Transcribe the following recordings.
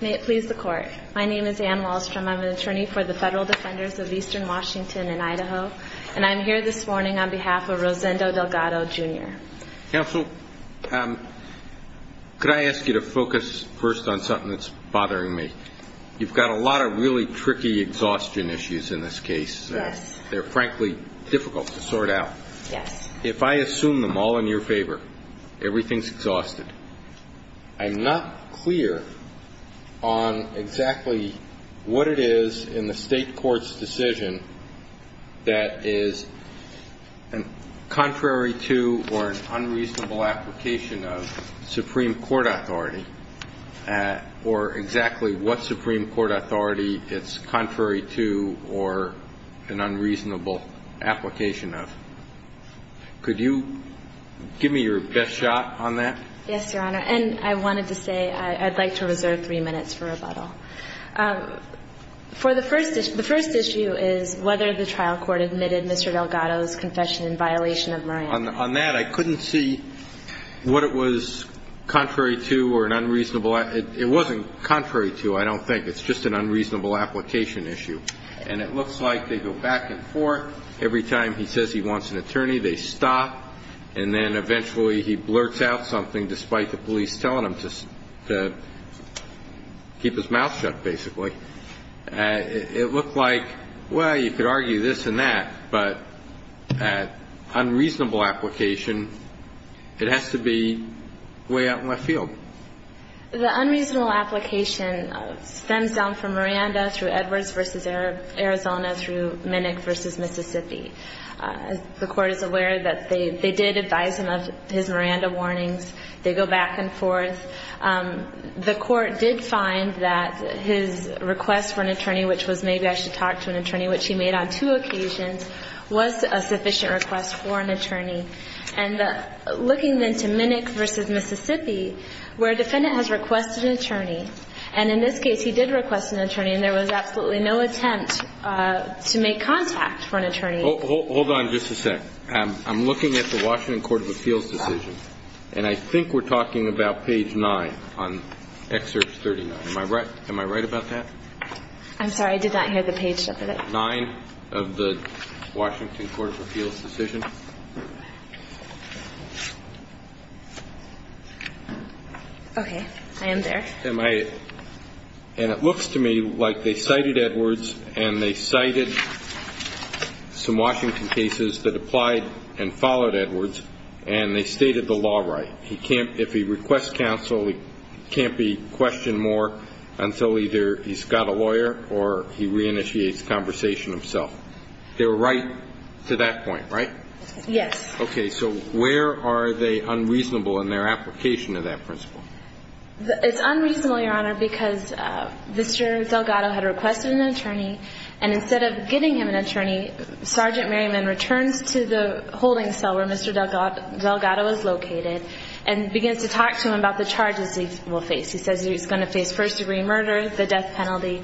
May it please the Court. My name is Anne Wallstrom. I'm an attorney for the Federal Defenders of Eastern Washington and Idaho. And I'm here this morning on behalf of Rosendo Delgado Jr. Counsel, could I ask you to focus first on something that's bothering me? You've got a lot of really tricky exhaustion issues in this case. Yes. They're frankly difficult to sort out. If I assume them all in your favor, everything's exhausted. I'm not clear on exactly what it is in the State Court's decision that is contrary to or an unreasonable application of Supreme Court authority, or exactly what Supreme Court authority it's contrary to or an unreasonable application of. Could you give me your best shot on that? Yes, Your Honor. And I wanted to say I'd like to reserve three minutes for rebuttal. For the first issue, the first issue is whether the trial court admitted Mr. Delgado's confession in violation of Moran. On that, I couldn't see what it was contrary to or an unreasonable. It wasn't contrary to, I don't think. It's just an unreasonable application issue. And it looks like they go back and forth. Every time he says he wants an attorney, they stop. And then eventually he blurts out something despite the police telling him to keep his mouth shut, basically. It looked like, well, you could argue this and that. But unreasonable application, it has to be way out in left field. The unreasonable application stems down from Miranda through Edwards v. Arizona through Minick v. Mississippi. The Court is aware that they did advise him of his Miranda warnings. They go back and forth. The Court did find that his request for an attorney, which was maybe I should talk to an attorney, which he made on two occasions, was a sufficient request for an attorney. And looking then to Minick v. Mississippi, where a defendant has requested an attorney, and in this case he did request an attorney and there was absolutely no attempt to make contact for an attorney. Hold on just a sec. I'm looking at the Washington Court of Appeals decision. And I think we're talking about page 9 on Excerpt 39. Am I right? Am I right about that? I'm sorry. I did not hear the page. 9 of the Washington Court of Appeals decision. Okay. I am there. And it looks to me like they cited Edwards and they cited some Washington cases that applied and followed Edwards and they stated the law right. If he requests counsel, he can't be questioned more until either he's got a lawyer or he reinitiates conversation himself. They're right to that point, right? Yes. Okay. So where are they unreasonable in their application of that principle? It's unreasonable, Your Honor, because Mr. Delgado had requested an attorney and instead of getting him an attorney, Sergeant Merriman returns to the holding cell where Mr. Delgado is located and begins to talk to him about the charges he will face. He says he's going to face first degree murder, the death penalty.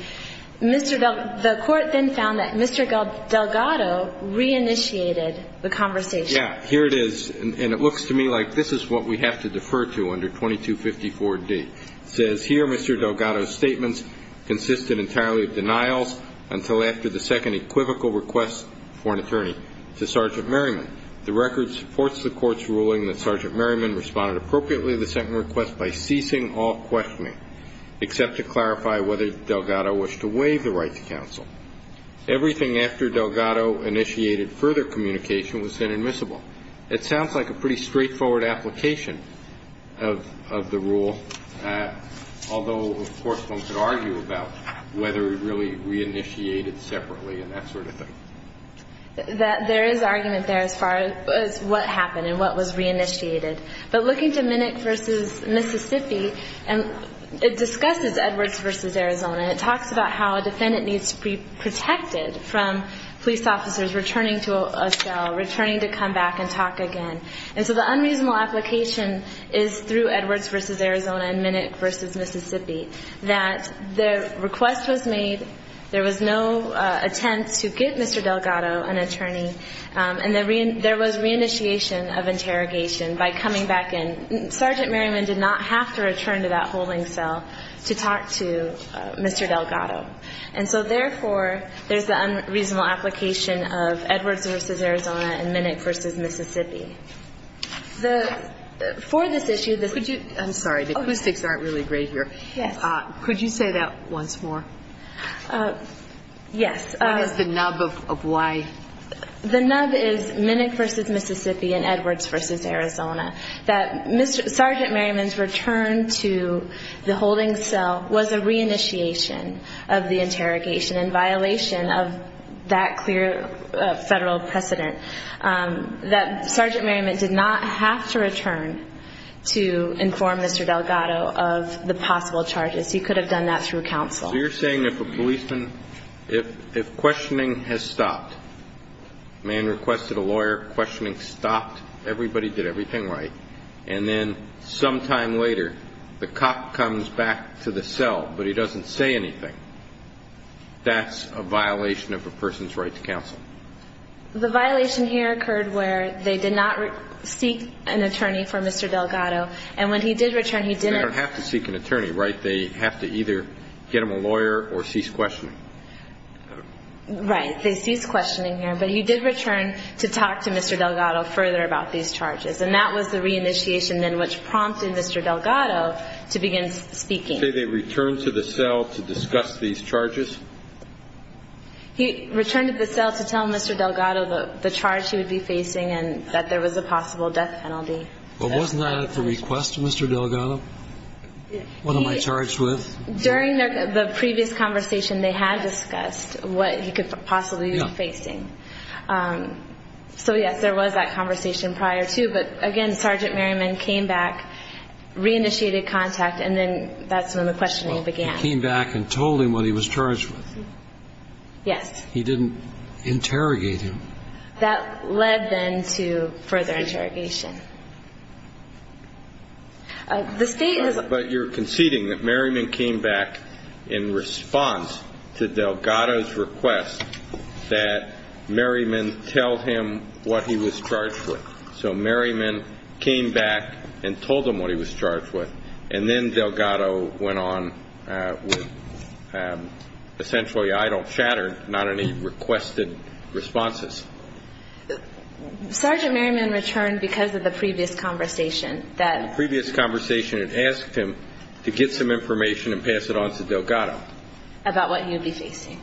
The court then found that Mr. Delgado reinitiated the conversation. Yeah. Here it is. And it looks to me like this is what we have to defer to under 2254D. It says here Mr. Delgado's statements consisted entirely of denials until after the second equivocal request for an attorney to Sergeant Merriman. The record supports the court's ruling that Sergeant Merriman responded appropriately to the second request by ceasing all questioning, except to clarify whether Delgado wished to waive the right to counsel. Everything after Delgado initiated further communication was then admissible. It sounds like a pretty straightforward application of the rule, although, of course, one could argue about whether it really reinitiated separately and that sort of thing. There is argument there as far as what happened and what was reinitiated. But looking to Minick v. Mississippi, it discusses Edwards v. Arizona. It talks about how a defendant needs to be protected from police officers returning to a cell, returning to come back and talk again. And so the unreasonable application is through Edwards v. Arizona and Minick v. Mississippi that the request was made, there was no attempt to get Mr. Delgado an attorney, and there was reinitiation of interrogation by coming back in. Sergeant Merriman did not have to return to that holding cell to talk to Mr. Delgado. And so, therefore, there's the unreasonable application of Edwards v. Arizona and Minick v. Mississippi. For this issue, the ---- I'm sorry. The acoustics aren't really great here. Yes. Could you say that once more? Yes. What is the nub of why? The nub is Minick v. Mississippi and Edwards v. Arizona, that Sergeant Merriman's return to the holding cell was a reinitiation of the interrogation in violation of that clear Federal precedent, that Sergeant Merriman did not have to return to inform Mr. Delgado of the possible charges. He could have done that through counsel. So you're saying if a policeman ---- if questioning has stopped, a man requested a lawyer, questioning stopped, everybody did everything right, and then sometime later the cop comes back to the cell but he doesn't say anything, that's a violation of a person's right to counsel? The violation here occurred where they did not seek an attorney for Mr. Delgado, and when he did return, he didn't ---- They don't have to seek an attorney, right? They have to either get him a lawyer or cease questioning. Right. They cease questioning here. But he did return to talk to Mr. Delgado further about these charges, and that was the reinitiation then which prompted Mr. Delgado to begin speaking. Did they return to the cell to discuss these charges? He returned to the cell to tell Mr. Delgado the charge he would be facing and that there was a possible death penalty. Well, wasn't that at the request of Mr. Delgado? What am I charged with? During the previous conversation they had discussed what he could possibly be facing. So, yes, there was that conversation prior to, but, again, Sergeant Merriman came back, reinitiated contact, and then that's when the questioning began. He came back and told him what he was charged with. Yes. He didn't interrogate him. That led, then, to further interrogation. The State has ---- But you're conceding that Merriman came back in response to Delgado's request that Merriman tell him what he was charged with. So Merriman came back and told him what he was charged with, and then Delgado went on with, essentially, I don't shatter not any requested responses. Sergeant Merriman returned because of the previous conversation that ---- The previous conversation had asked him to get some information and pass it on to Delgado. About what he would be facing.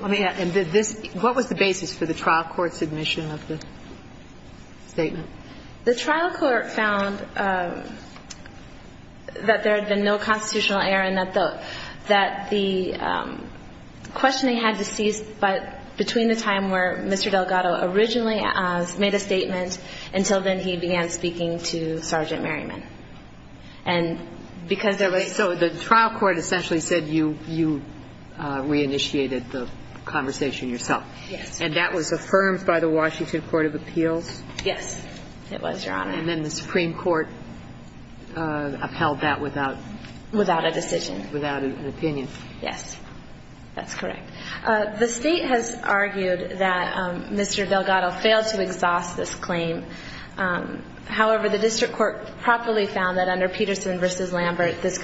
Let me ask, what was the basis for the trial court's admission of the statement? The trial court found that there had been no constitutional error and that the questioning had to cease, but between the time where Mr. Delgado originally made a statement until then he began speaking to Sergeant Merriman. And because there was ---- So the trial court essentially said you reinitiated the conversation yourself. And that was affirmed by the Washington Court of Appeals? Yes, it was, Your Honor. And then the Supreme Court upheld that without ---- Without a decision. Without an opinion. Yes, that's correct. The State has argued that Mr. Delgado failed to exhaust this claim. However, the district court properly found that under Peterson v. Lambert, this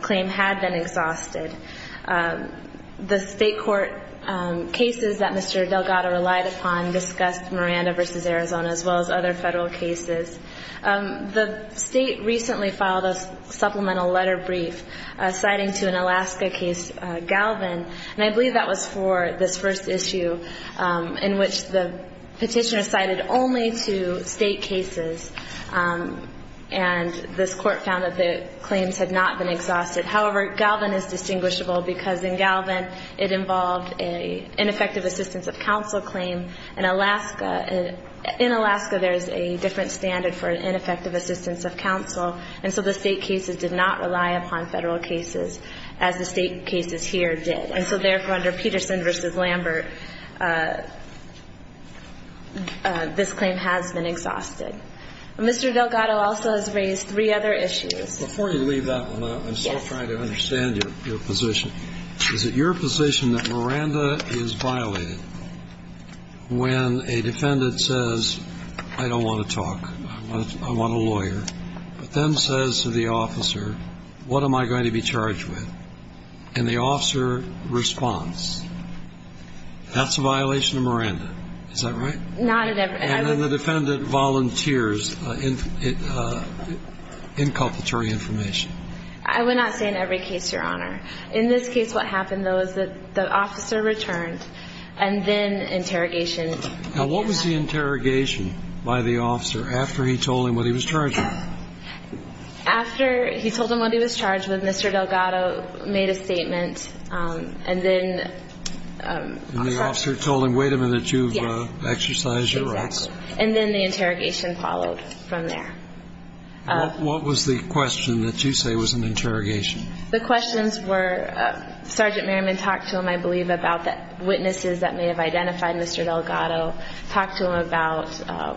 claim had been exhausted. The State court cases that Mr. Delgado relied upon discussed Miranda v. Arizona as well as other federal cases. The State recently filed a supplemental letter brief citing to an Alaska case, Galvin, and I believe that was for this first issue in which the petitioner cited only to State cases. And this court found that the claims had not been exhausted. However, Galvin is distinguishable because in Galvin it involved an ineffective assistance of counsel claim and Alaska ---- in Alaska there is a different standard for an ineffective assistance of counsel. And so the State cases did not rely upon federal cases as the State cases here did. And so therefore, under Peterson v. Lambert, this claim has been exhausted. Mr. Delgado also has raised three other issues. Before you leave that one, I'm still trying to understand your position. Is it your position that Miranda is violated? When a defendant says, I don't want to talk, I want a lawyer, but then says to the officer, what am I going to be charged with? And the officer responds, that's a violation of Miranda. Is that right? Not in every ---- And then the defendant volunteers inculpatory information. I would not say in every case, Your Honor. In this case what happened, though, is that the officer returned and then interrogation ---- Now what was the interrogation by the officer after he told him what he was charged with? After he told him what he was charged with, Mr. Delgado made a statement and then ---- And the officer told him, wait a minute, you've exercised your right. Yes, exactly. And then the interrogation followed from there. What was the question that you say was an interrogation? The questions were, Sergeant Merriman talked to him, I believe, about witnesses that may have identified Mr. Delgado, talked to him about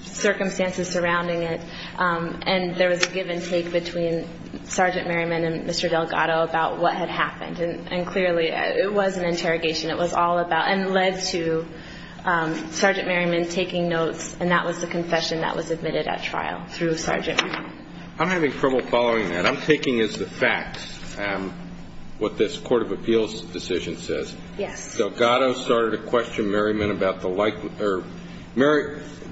circumstances surrounding it, and there was a give and take between Sergeant Merriman and Mr. Delgado about what had happened. And clearly it was an interrogation. It was all about ---- and led to Sergeant Merriman taking notes, and that was the confession that was admitted at trial through a sergeant. I'm having trouble following that. What I'm taking is the facts, what this Court of Appeals decision says. Yes. Delgado started to question Merriman about the likely ----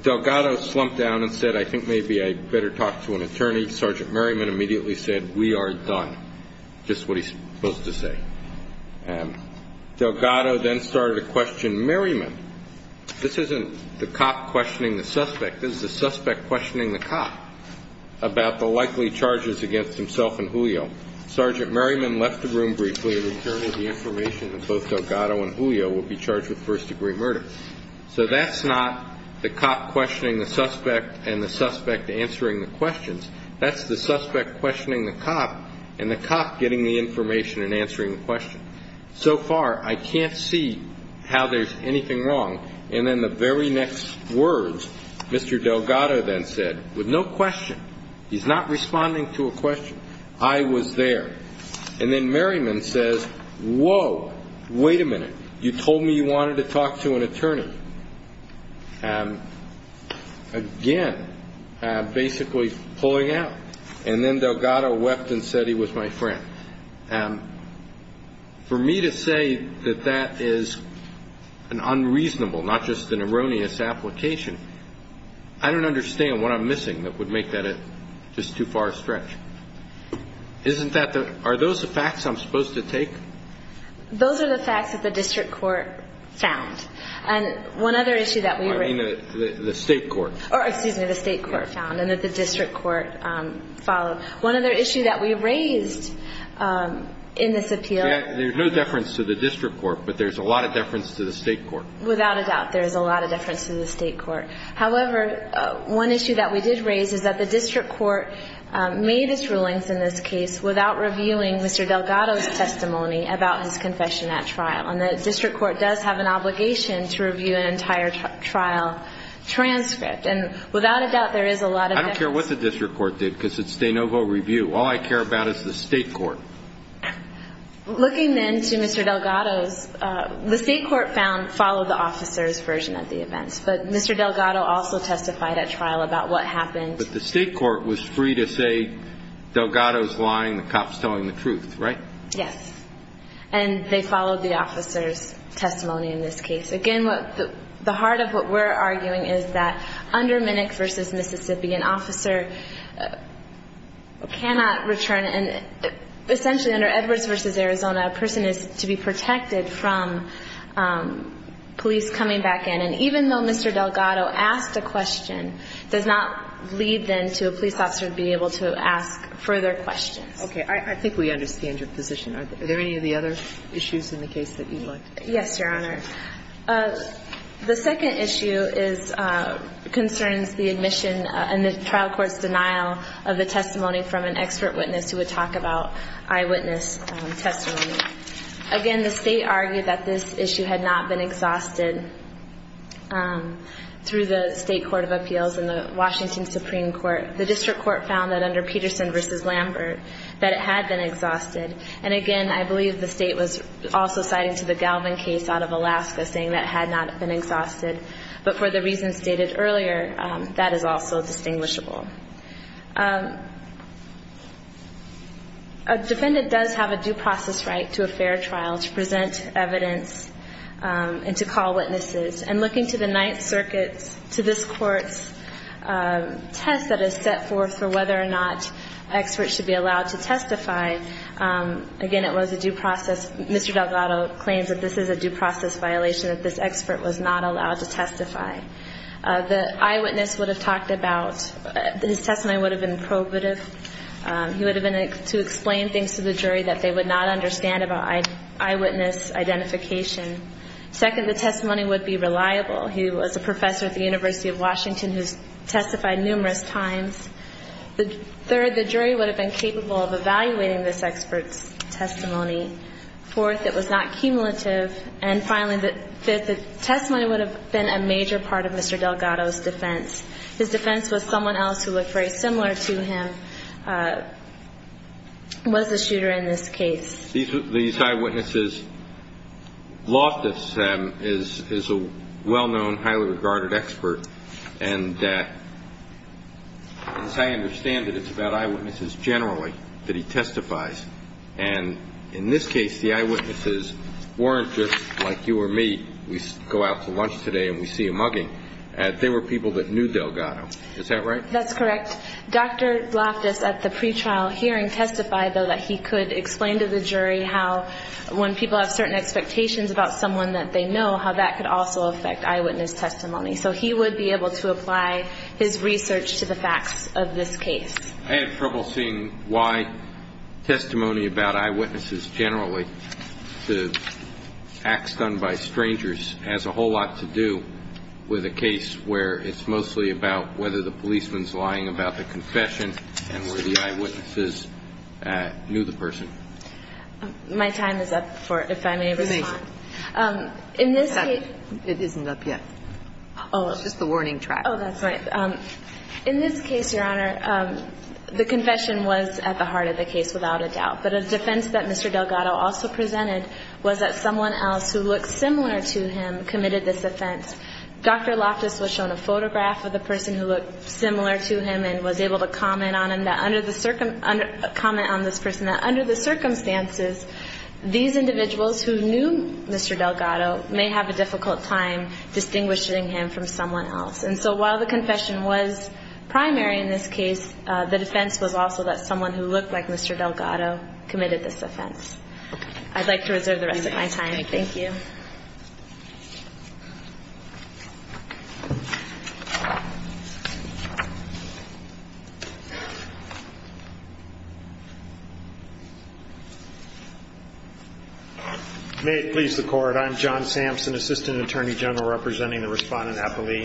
Delgado slumped down and said, I think maybe I better talk to an attorney. Sergeant Merriman immediately said, we are done, just what he's supposed to say. Delgado then started to question Merriman. This isn't the cop questioning the suspect. This is the suspect questioning the cop about the likely charges against himself and Julio. Sergeant Merriman left the room briefly, returning the information that both Delgado and Julio would be charged with first-degree murder. So that's not the cop questioning the suspect and the suspect answering the questions. That's the suspect questioning the cop and the cop getting the information and answering the question. So far, I can't see how there's anything wrong. And then the very next words, Mr. Delgado then said, with no question. He's not responding to a question. I was there. And then Merriman says, whoa, wait a minute, you told me you wanted to talk to an attorney. Again, basically pulling out. And then Delgado left and said he was my friend. And for me to say that that is an unreasonable, not just an erroneous application, I don't understand what I'm missing that would make that just too far a stretch. Isn't that the ‑‑ are those the facts I'm supposed to take? Those are the facts that the district court found. And one other issue that we raised. I mean the state court. Excuse me, the state court found and that the district court followed. One other issue that we raised in this appeal. There's no deference to the district court, but there's a lot of deference to the state court. Without a doubt, there's a lot of deference to the state court. However, one issue that we did raise is that the district court made its rulings in this case without reviewing Mr. Delgado's testimony about his confession at trial. And the district court does have an obligation to review an entire trial transcript. And without a doubt, there is a lot of deference. I don't care what the district court did because it's de novo review. All I care about is the state court. Looking then to Mr. Delgado's, the state court followed the officer's version of the events. But Mr. Delgado also testified at trial about what happened. But the state court was free to say Delgado's lying, the cop's telling the truth, right? Yes. And they followed the officer's testimony in this case. Again, the heart of what we're arguing is that under Minnick v. Mississippi, an officer cannot return. And essentially under Edwards v. Arizona, a person is to be protected from police coming back in. And even though Mr. Delgado asked a question, does not lead then to a police officer being able to ask further questions. Okay. I think we understand your position. Are there any of the other issues in the case that you'd like to address? Yes, Your Honor. The second issue concerns the admission and the trial court's denial of the testimony from an expert witness who would talk about eyewitness testimony. Again, the state argued that this issue had not been exhausted through the state court of appeals and the Washington Supreme Court. The district court found that under Peterson v. Lambert that it had been exhausted. And again, I believe the state was also citing to the Galvin case out of Alaska, saying that it had not been exhausted. But for the reasons stated earlier, that is also distinguishable. A defendant does have a due process right to a fair trial to present evidence and to call witnesses. And looking to the Ninth Circuit's, to this court's test that is set forth for whether or not experts should be allowed to testify, again, it was a due process. Mr. Delgado claims that this is a due process violation, that this expert was not allowed to testify. The eyewitness would have talked about, his testimony would have been probative. He would have been able to explain things to the jury that they would not understand about eyewitness identification. Second, the testimony would be reliable. He was a professor at the University of Washington who has testified numerous times. Third, the jury would have been capable of evaluating this expert's testimony. Fourth, it was not cumulative. And finally, the testimony would have been a major part of Mr. Delgado's defense. His defense was someone else who looked very similar to him was the shooter in this case. These eyewitnesses, Loftus is a well-known, highly regarded expert. And as I understand it, it's about eyewitnesses generally that he testifies. And in this case, the eyewitnesses weren't just like you or me. We go out to lunch today and we see a mugging. They were people that knew Delgado. Is that right? That's correct. Dr. Loftus at the pretrial hearing testified, though, that he could explain to the jury how when people have certain expectations about someone that they know, how that could also affect eyewitness testimony. So he would be able to apply his research to the facts of this case. I have trouble seeing why testimony about eyewitnesses generally, the acts done by strangers, has a whole lot to do with a case where it's mostly about whether the policeman's lying about the confession and where the eyewitnesses knew the person. My time is up, if I may respond. Amazing. It isn't up yet. It's just the warning track. Oh, that's right. In this case, Your Honor, the confession was at the heart of the case without a doubt. But a defense that Mr. Delgado also presented was that someone else who looked similar to him committed this offense. Dr. Loftus was shown a photograph of the person who looked similar to him and was able to comment on this person that under the circumstances, these individuals who knew Mr. Delgado may have a difficult time distinguishing him from someone else. And so while the confession was primary in this case, the defense was also that someone who looked like Mr. Delgado committed this offense. I'd like to reserve the rest of my time. Thank you. May it please the Court. I'm John Sampson, Assistant Attorney General, representing the Respondent Appellee.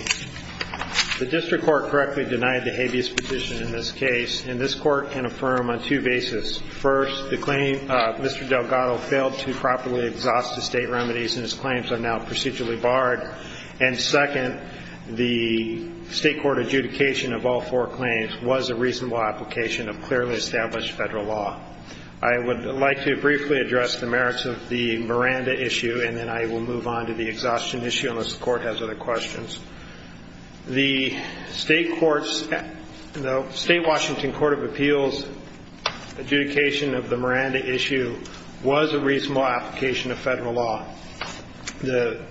The district court correctly denied the habeas petition in this case, and this court can affirm on two bases. First, the claim Mr. Delgado failed to properly exhaust the state remedies and his claims are now procedurally barred. And second, the state court adjudication of all four claims was a reasonable application of clearly established federal law. I would like to briefly address the merits of the Miranda issue, and then I will move on to the exhaustion issue unless the Court has other questions. The state Washington Court of Appeals adjudication of the Miranda issue was a reasonable application of federal law. The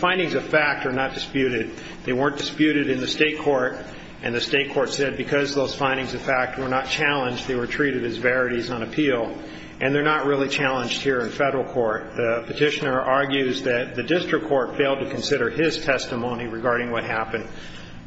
findings of fact are not disputed. They weren't disputed in the state court, and the state court said because those findings of fact were not challenged, they were treated as verities on appeal. And they're not really challenged here in federal court. The petitioner argues that the district court failed to consider his testimony regarding what happened,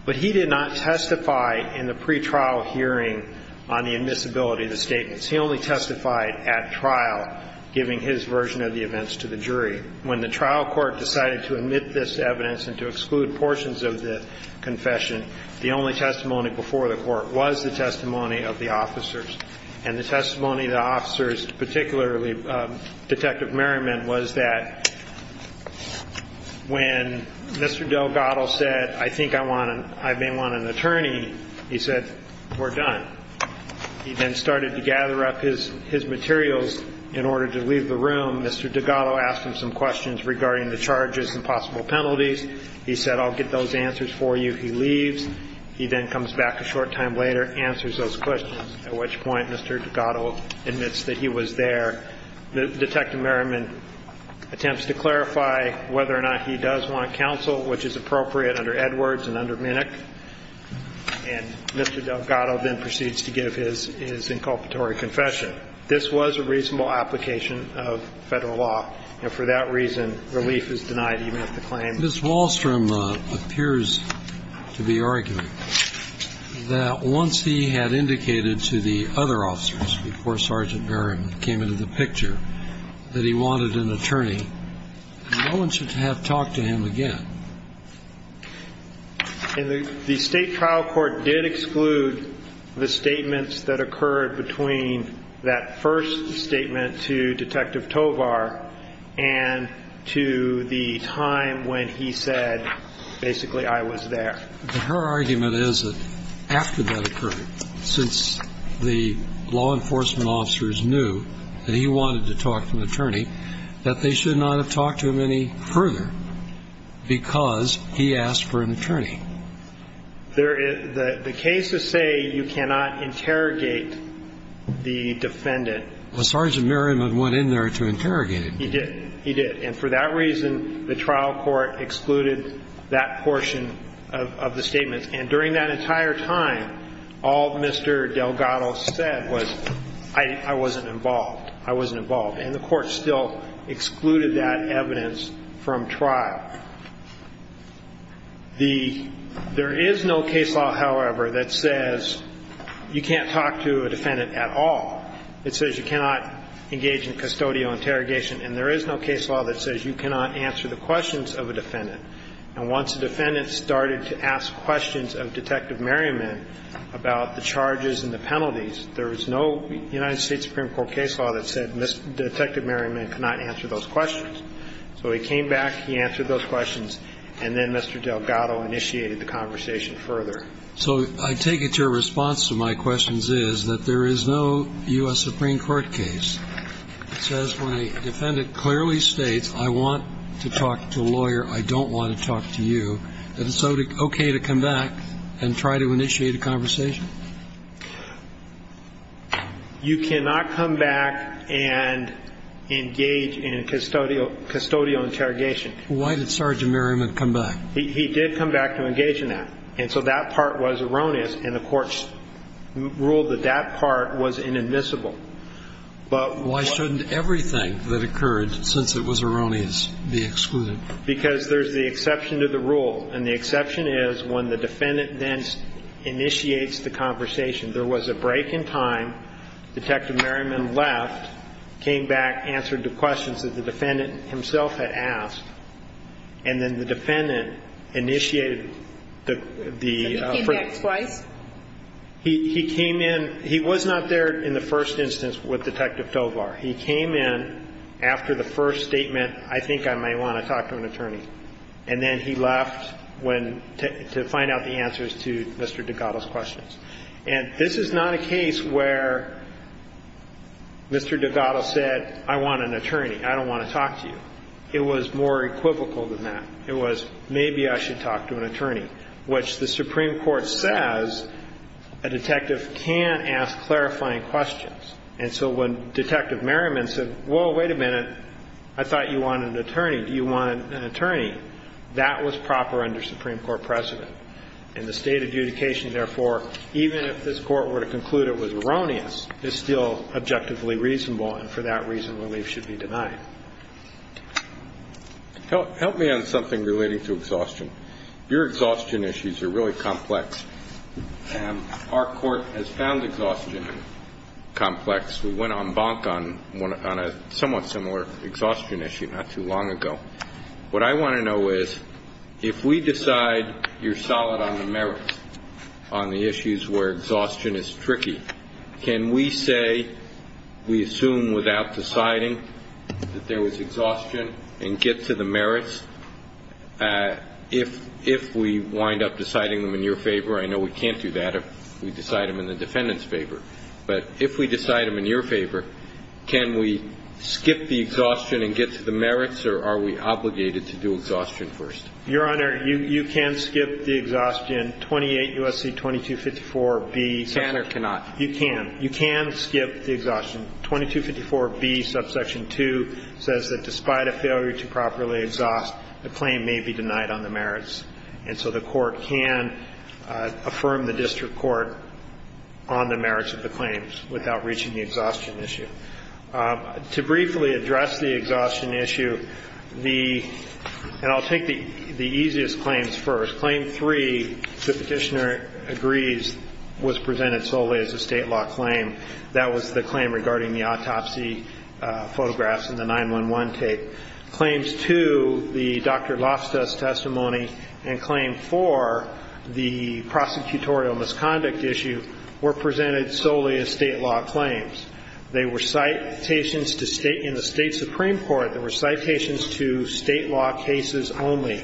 but he did not testify in the pretrial hearing on the admissibility of the statements. He only testified at trial, giving his version of the events to the jury. When the trial court decided to omit this evidence and to exclude portions of the confession, the only testimony before the court was the testimony of the officers. And the testimony of the officers, particularly Detective Merriman, was that when Mr. Delgado said, I think I may want an attorney, he said, we're done. He then started to gather up his materials in order to leave the room. Mr. Delgado asked him some questions regarding the charges and possible penalties. He said, I'll get those answers for you. He leaves. He then comes back a short time later, answers those questions, at which point Mr. Delgado admits that he was there. Detective Merriman attempts to clarify whether or not he does want counsel, which is appropriate under Edwards and under Minnick. And Mr. Delgado then proceeds to give his inculpatory confession. This was a reasonable application of Federal law. And for that reason, relief is denied even if the claim is denied. And the State trial court did exclude the statements that occurred between that first statement to Detective Tovar and to the time when he said, basically, I was there. But her argument is that after that occurred, since the law enforcement officers knew that he wanted to talk to an attorney, that they should not have talked to him any further because he asked for an attorney. The cases say you cannot interrogate the defendant. Well, Sergeant Merriman went in there to interrogate him. He did. He did. And for that reason, the trial court excluded that portion of the statements. And during that entire time, all Mr. Delgado said was, I wasn't involved. I wasn't involved. And the court still excluded that evidence from trial. There is no case law, however, that says you can't talk to a defendant at all. It says you cannot engage in custodial interrogation. And there is no case law that says you cannot answer the questions of a defendant. And once a defendant started to ask questions of Detective Merriman about the charges and the penalties, there is no United States Supreme Court case law that said Detective Merriman cannot answer those questions. So he came back, he answered those questions, and then Mr. Delgado initiated the conversation further. So I take it your response to my questions is that there is no U.S. Supreme Court case. It says my defendant clearly states I want to talk to a lawyer, I don't want to talk to you. Is it okay to come back and try to initiate a conversation? You cannot come back and engage in custodial interrogation. Why did Sergeant Merriman come back? He did come back to engage in that. And so that part was erroneous, and the court ruled that that part was inadmissible. But why shouldn't everything that occurred since it was erroneous be excluded? Because there is the exception to the rule. And the exception is when the defendant then initiates the conversation. There was a break in time. Detective Merriman left, came back, answered the questions that the defendant himself had asked. And then the defendant initiated the question. So he came back twice? He came in. He was not there in the first instance with Detective Tovar. He came in after the first statement, I think I might want to talk to an attorney. And then he left to find out the answers to Mr. Degato's questions. And this is not a case where Mr. Degato said, I want an attorney, I don't want to talk to you. It was more equivocal than that. It was, maybe I should talk to an attorney, which the Supreme Court says a detective can ask clarifying questions. And so when Detective Merriman said, whoa, wait a minute, I thought you wanted an attorney. Do you want an attorney? That was proper under Supreme Court precedent. And the State adjudication, therefore, even if this Court were to conclude it was erroneous, is still objectively reasonable, and for that reason, relief should be denied. Help me on something relating to exhaustion. Your exhaustion issues are really complex. Our Court has found exhaustion complex. We went on bonk on a somewhat similar exhaustion issue not too long ago. What I want to know is, if we decide you're solid on the merits on the issues where we're not deciding that there was exhaustion and get to the merits, if we wind up deciding them in your favor, I know we can't do that if we decide them in the defendant's favor, but if we decide them in your favor, can we skip the exhaustion and get to the merits, or are we obligated to do exhaustion first? Your Honor, you can skip the exhaustion, 28 U.S.C. 2254B. Can or cannot? You can. You can skip the exhaustion. 2254B, subsection 2, says that despite a failure to properly exhaust, the claim may be denied on the merits. And so the Court can affirm the district court on the merits of the claims without reaching the exhaustion issue. To briefly address the exhaustion issue, the – and I'll take the easiest claims first. Claim 3, the petitioner agrees, was presented solely as a state law claim. That was the claim regarding the autopsy photographs and the 911 tape. Claims 2, the Dr. Loftus testimony, and claim 4, the prosecutorial misconduct issue, were presented solely as state law claims. They were citations to state – in the State Supreme Court, they were citations to state law cases only.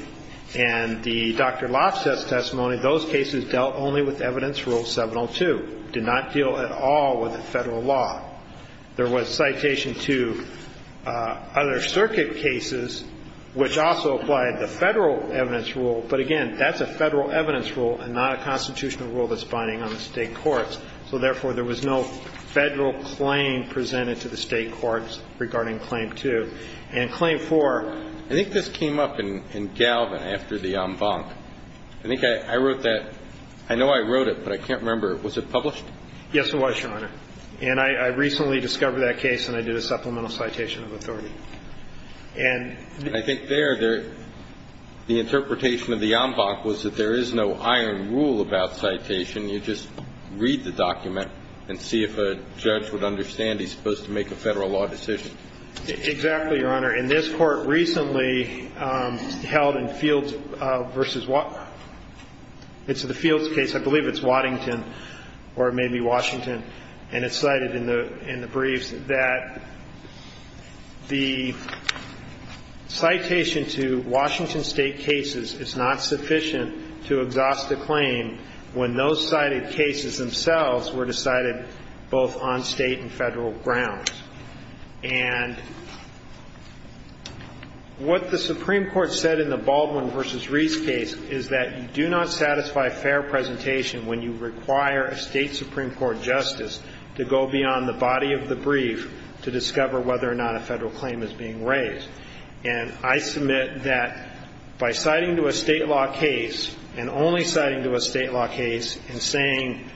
And the Dr. Loftus testimony, those cases dealt only with evidence rule 702, did not deal at all with the Federal law. There was citation to other circuit cases, which also applied the Federal evidence rule, but, again, that's a Federal evidence rule and not a constitutional rule that's binding on the State courts. So, therefore, there was no Federal claim presented to the State courts regarding claim 2. And claim 4 – I think this came up in Galvin after the en banc. I think I wrote that – I know I wrote it, but I can't remember. Was it published? Yes, it was, Your Honor. And I recently discovered that case, and I did a supplemental citation of authority. And – I think there, the interpretation of the en banc was that there is no iron rule about citation. You just read the document and see if a judge would understand he's supposed to make a Federal law decision. Exactly, Your Honor. And this Court recently held in Fields v. – it's the Fields case. I believe it's Waddington or maybe Washington. And it's cited in the briefs that the citation to Washington State cases is not sufficient to exhaust a claim when those cited cases themselves were decided both on State and Federal grounds. And what the Supreme Court said in the Baldwin v. Reese case is that you do not satisfy fair presentation when you require a State Supreme Court justice to go beyond the body of the brief to discover whether or not a Federal claim is being raised. And I submit that by citing to a State law case and only citing to a State law case and saying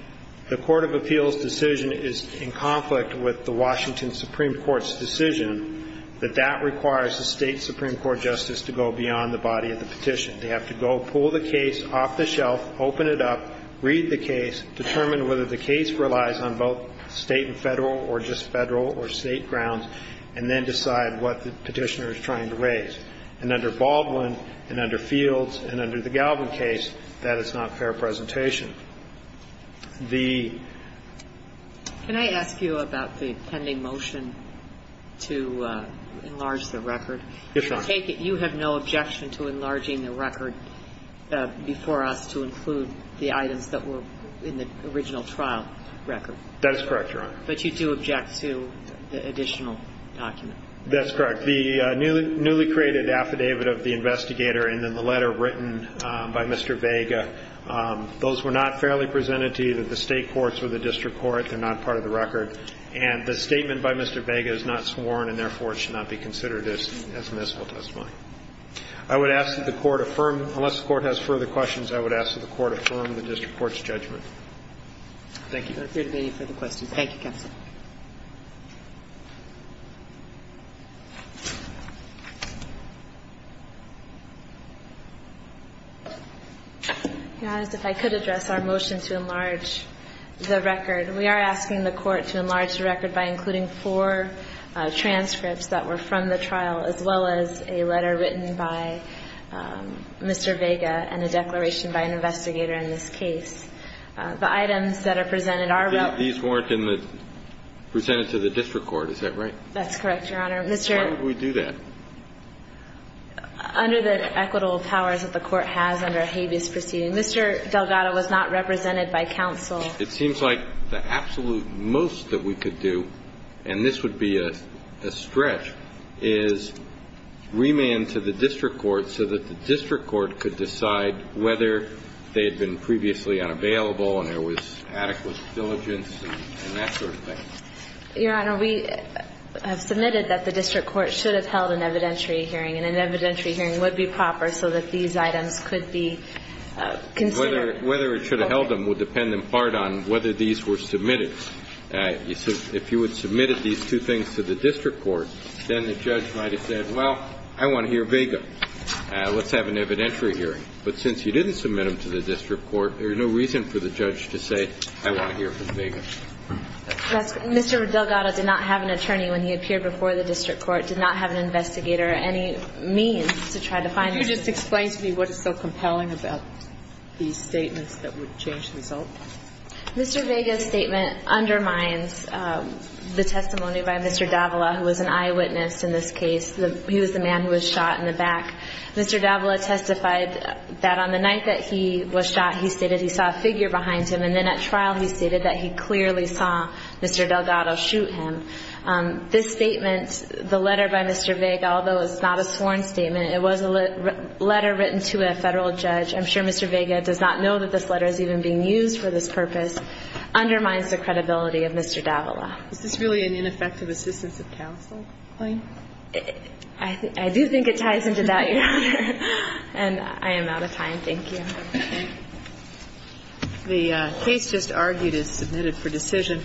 the court of appeals decision is in conflict with the Washington Supreme Court's decision, that that requires a State Supreme Court justice to go beyond the body of the petition. They have to go pull the case off the shelf, open it up, read the case, determine whether the case relies on both State and Federal or just Federal or State grounds, and then decide what the petitioner is trying to raise. And under Baldwin and under Fields and under the Galvin case, that is not fair presentation. The ---- Can I ask you about the pending motion to enlarge the record? Yes, Your Honor. You have no objection to enlarging the record before us to include the items that were in the original trial record? That is correct, Your Honor. But you do object to the additional document? That's correct. The newly created affidavit of the investigator and then the letter written by Mr. Vega, those were not fairly presented to either the State courts or the district court. They're not part of the record. And the statement by Mr. Vega is not sworn, and therefore, it should not be considered as municipal testimony. I would ask that the Court affirm ---- unless the Court has further questions, I would ask that the Court affirm the district court's judgment. Thank you. There appear to be no further questions. Thank you, counsel. Your Honor, if I could address our motion to enlarge the record. We are asking the Court to enlarge the record by including four transcripts that were from the trial, as well as a letter written by Mr. Vega and a declaration by an investigator in this case. The items that are presented are ---- No, they were not. Presented to the district court. Is that right? That's correct, Your Honor. Mr. ---- Why would we do that? Under the equitable powers that the Court has under habeas proceeding. Mr. Delgado was not represented by counsel. It seems like the absolute most that we could do, and this would be a stretch, is remand to the district court so that the district court could decide whether they had been previously unavailable and there was adequate diligence and that sort of thing. Your Honor, we have submitted that the district court should have held an evidentiary hearing, and an evidentiary hearing would be proper so that these items could be considered. Whether it should have held them would depend in part on whether these were submitted. If you had submitted these two things to the district court, then the judge might have said, well, I want to hear Vega. Let's have an evidentiary hearing. But since you didn't submit them to the district court, there's no reason for the judge to say, I want to hear from Vega. Mr. Delgado did not have an attorney when he appeared before the district court, did not have an investigator or any means to try to find him. Could you just explain to me what is so compelling about these statements that would change the result? Mr. Vega's statement undermines the testimony by Mr. Davila, who was an eyewitness in this case. He was the man who was shot in the back. Mr. Davila testified that on the night that he was shot, he stated he saw a figure behind him, and then at trial he stated that he clearly saw Mr. Delgado shoot him. This statement, the letter by Mr. Vega, although it's not a sworn statement, it was a letter written to a Federal judge. I'm sure Mr. Vega does not know that this letter is even being used for this purpose, undermines the credibility of Mr. Davila. Is this really an ineffective assistance of counsel claim? I do think it ties into that, Your Honor. And I am out of time. Thank you. The case just argued is submitted for decision.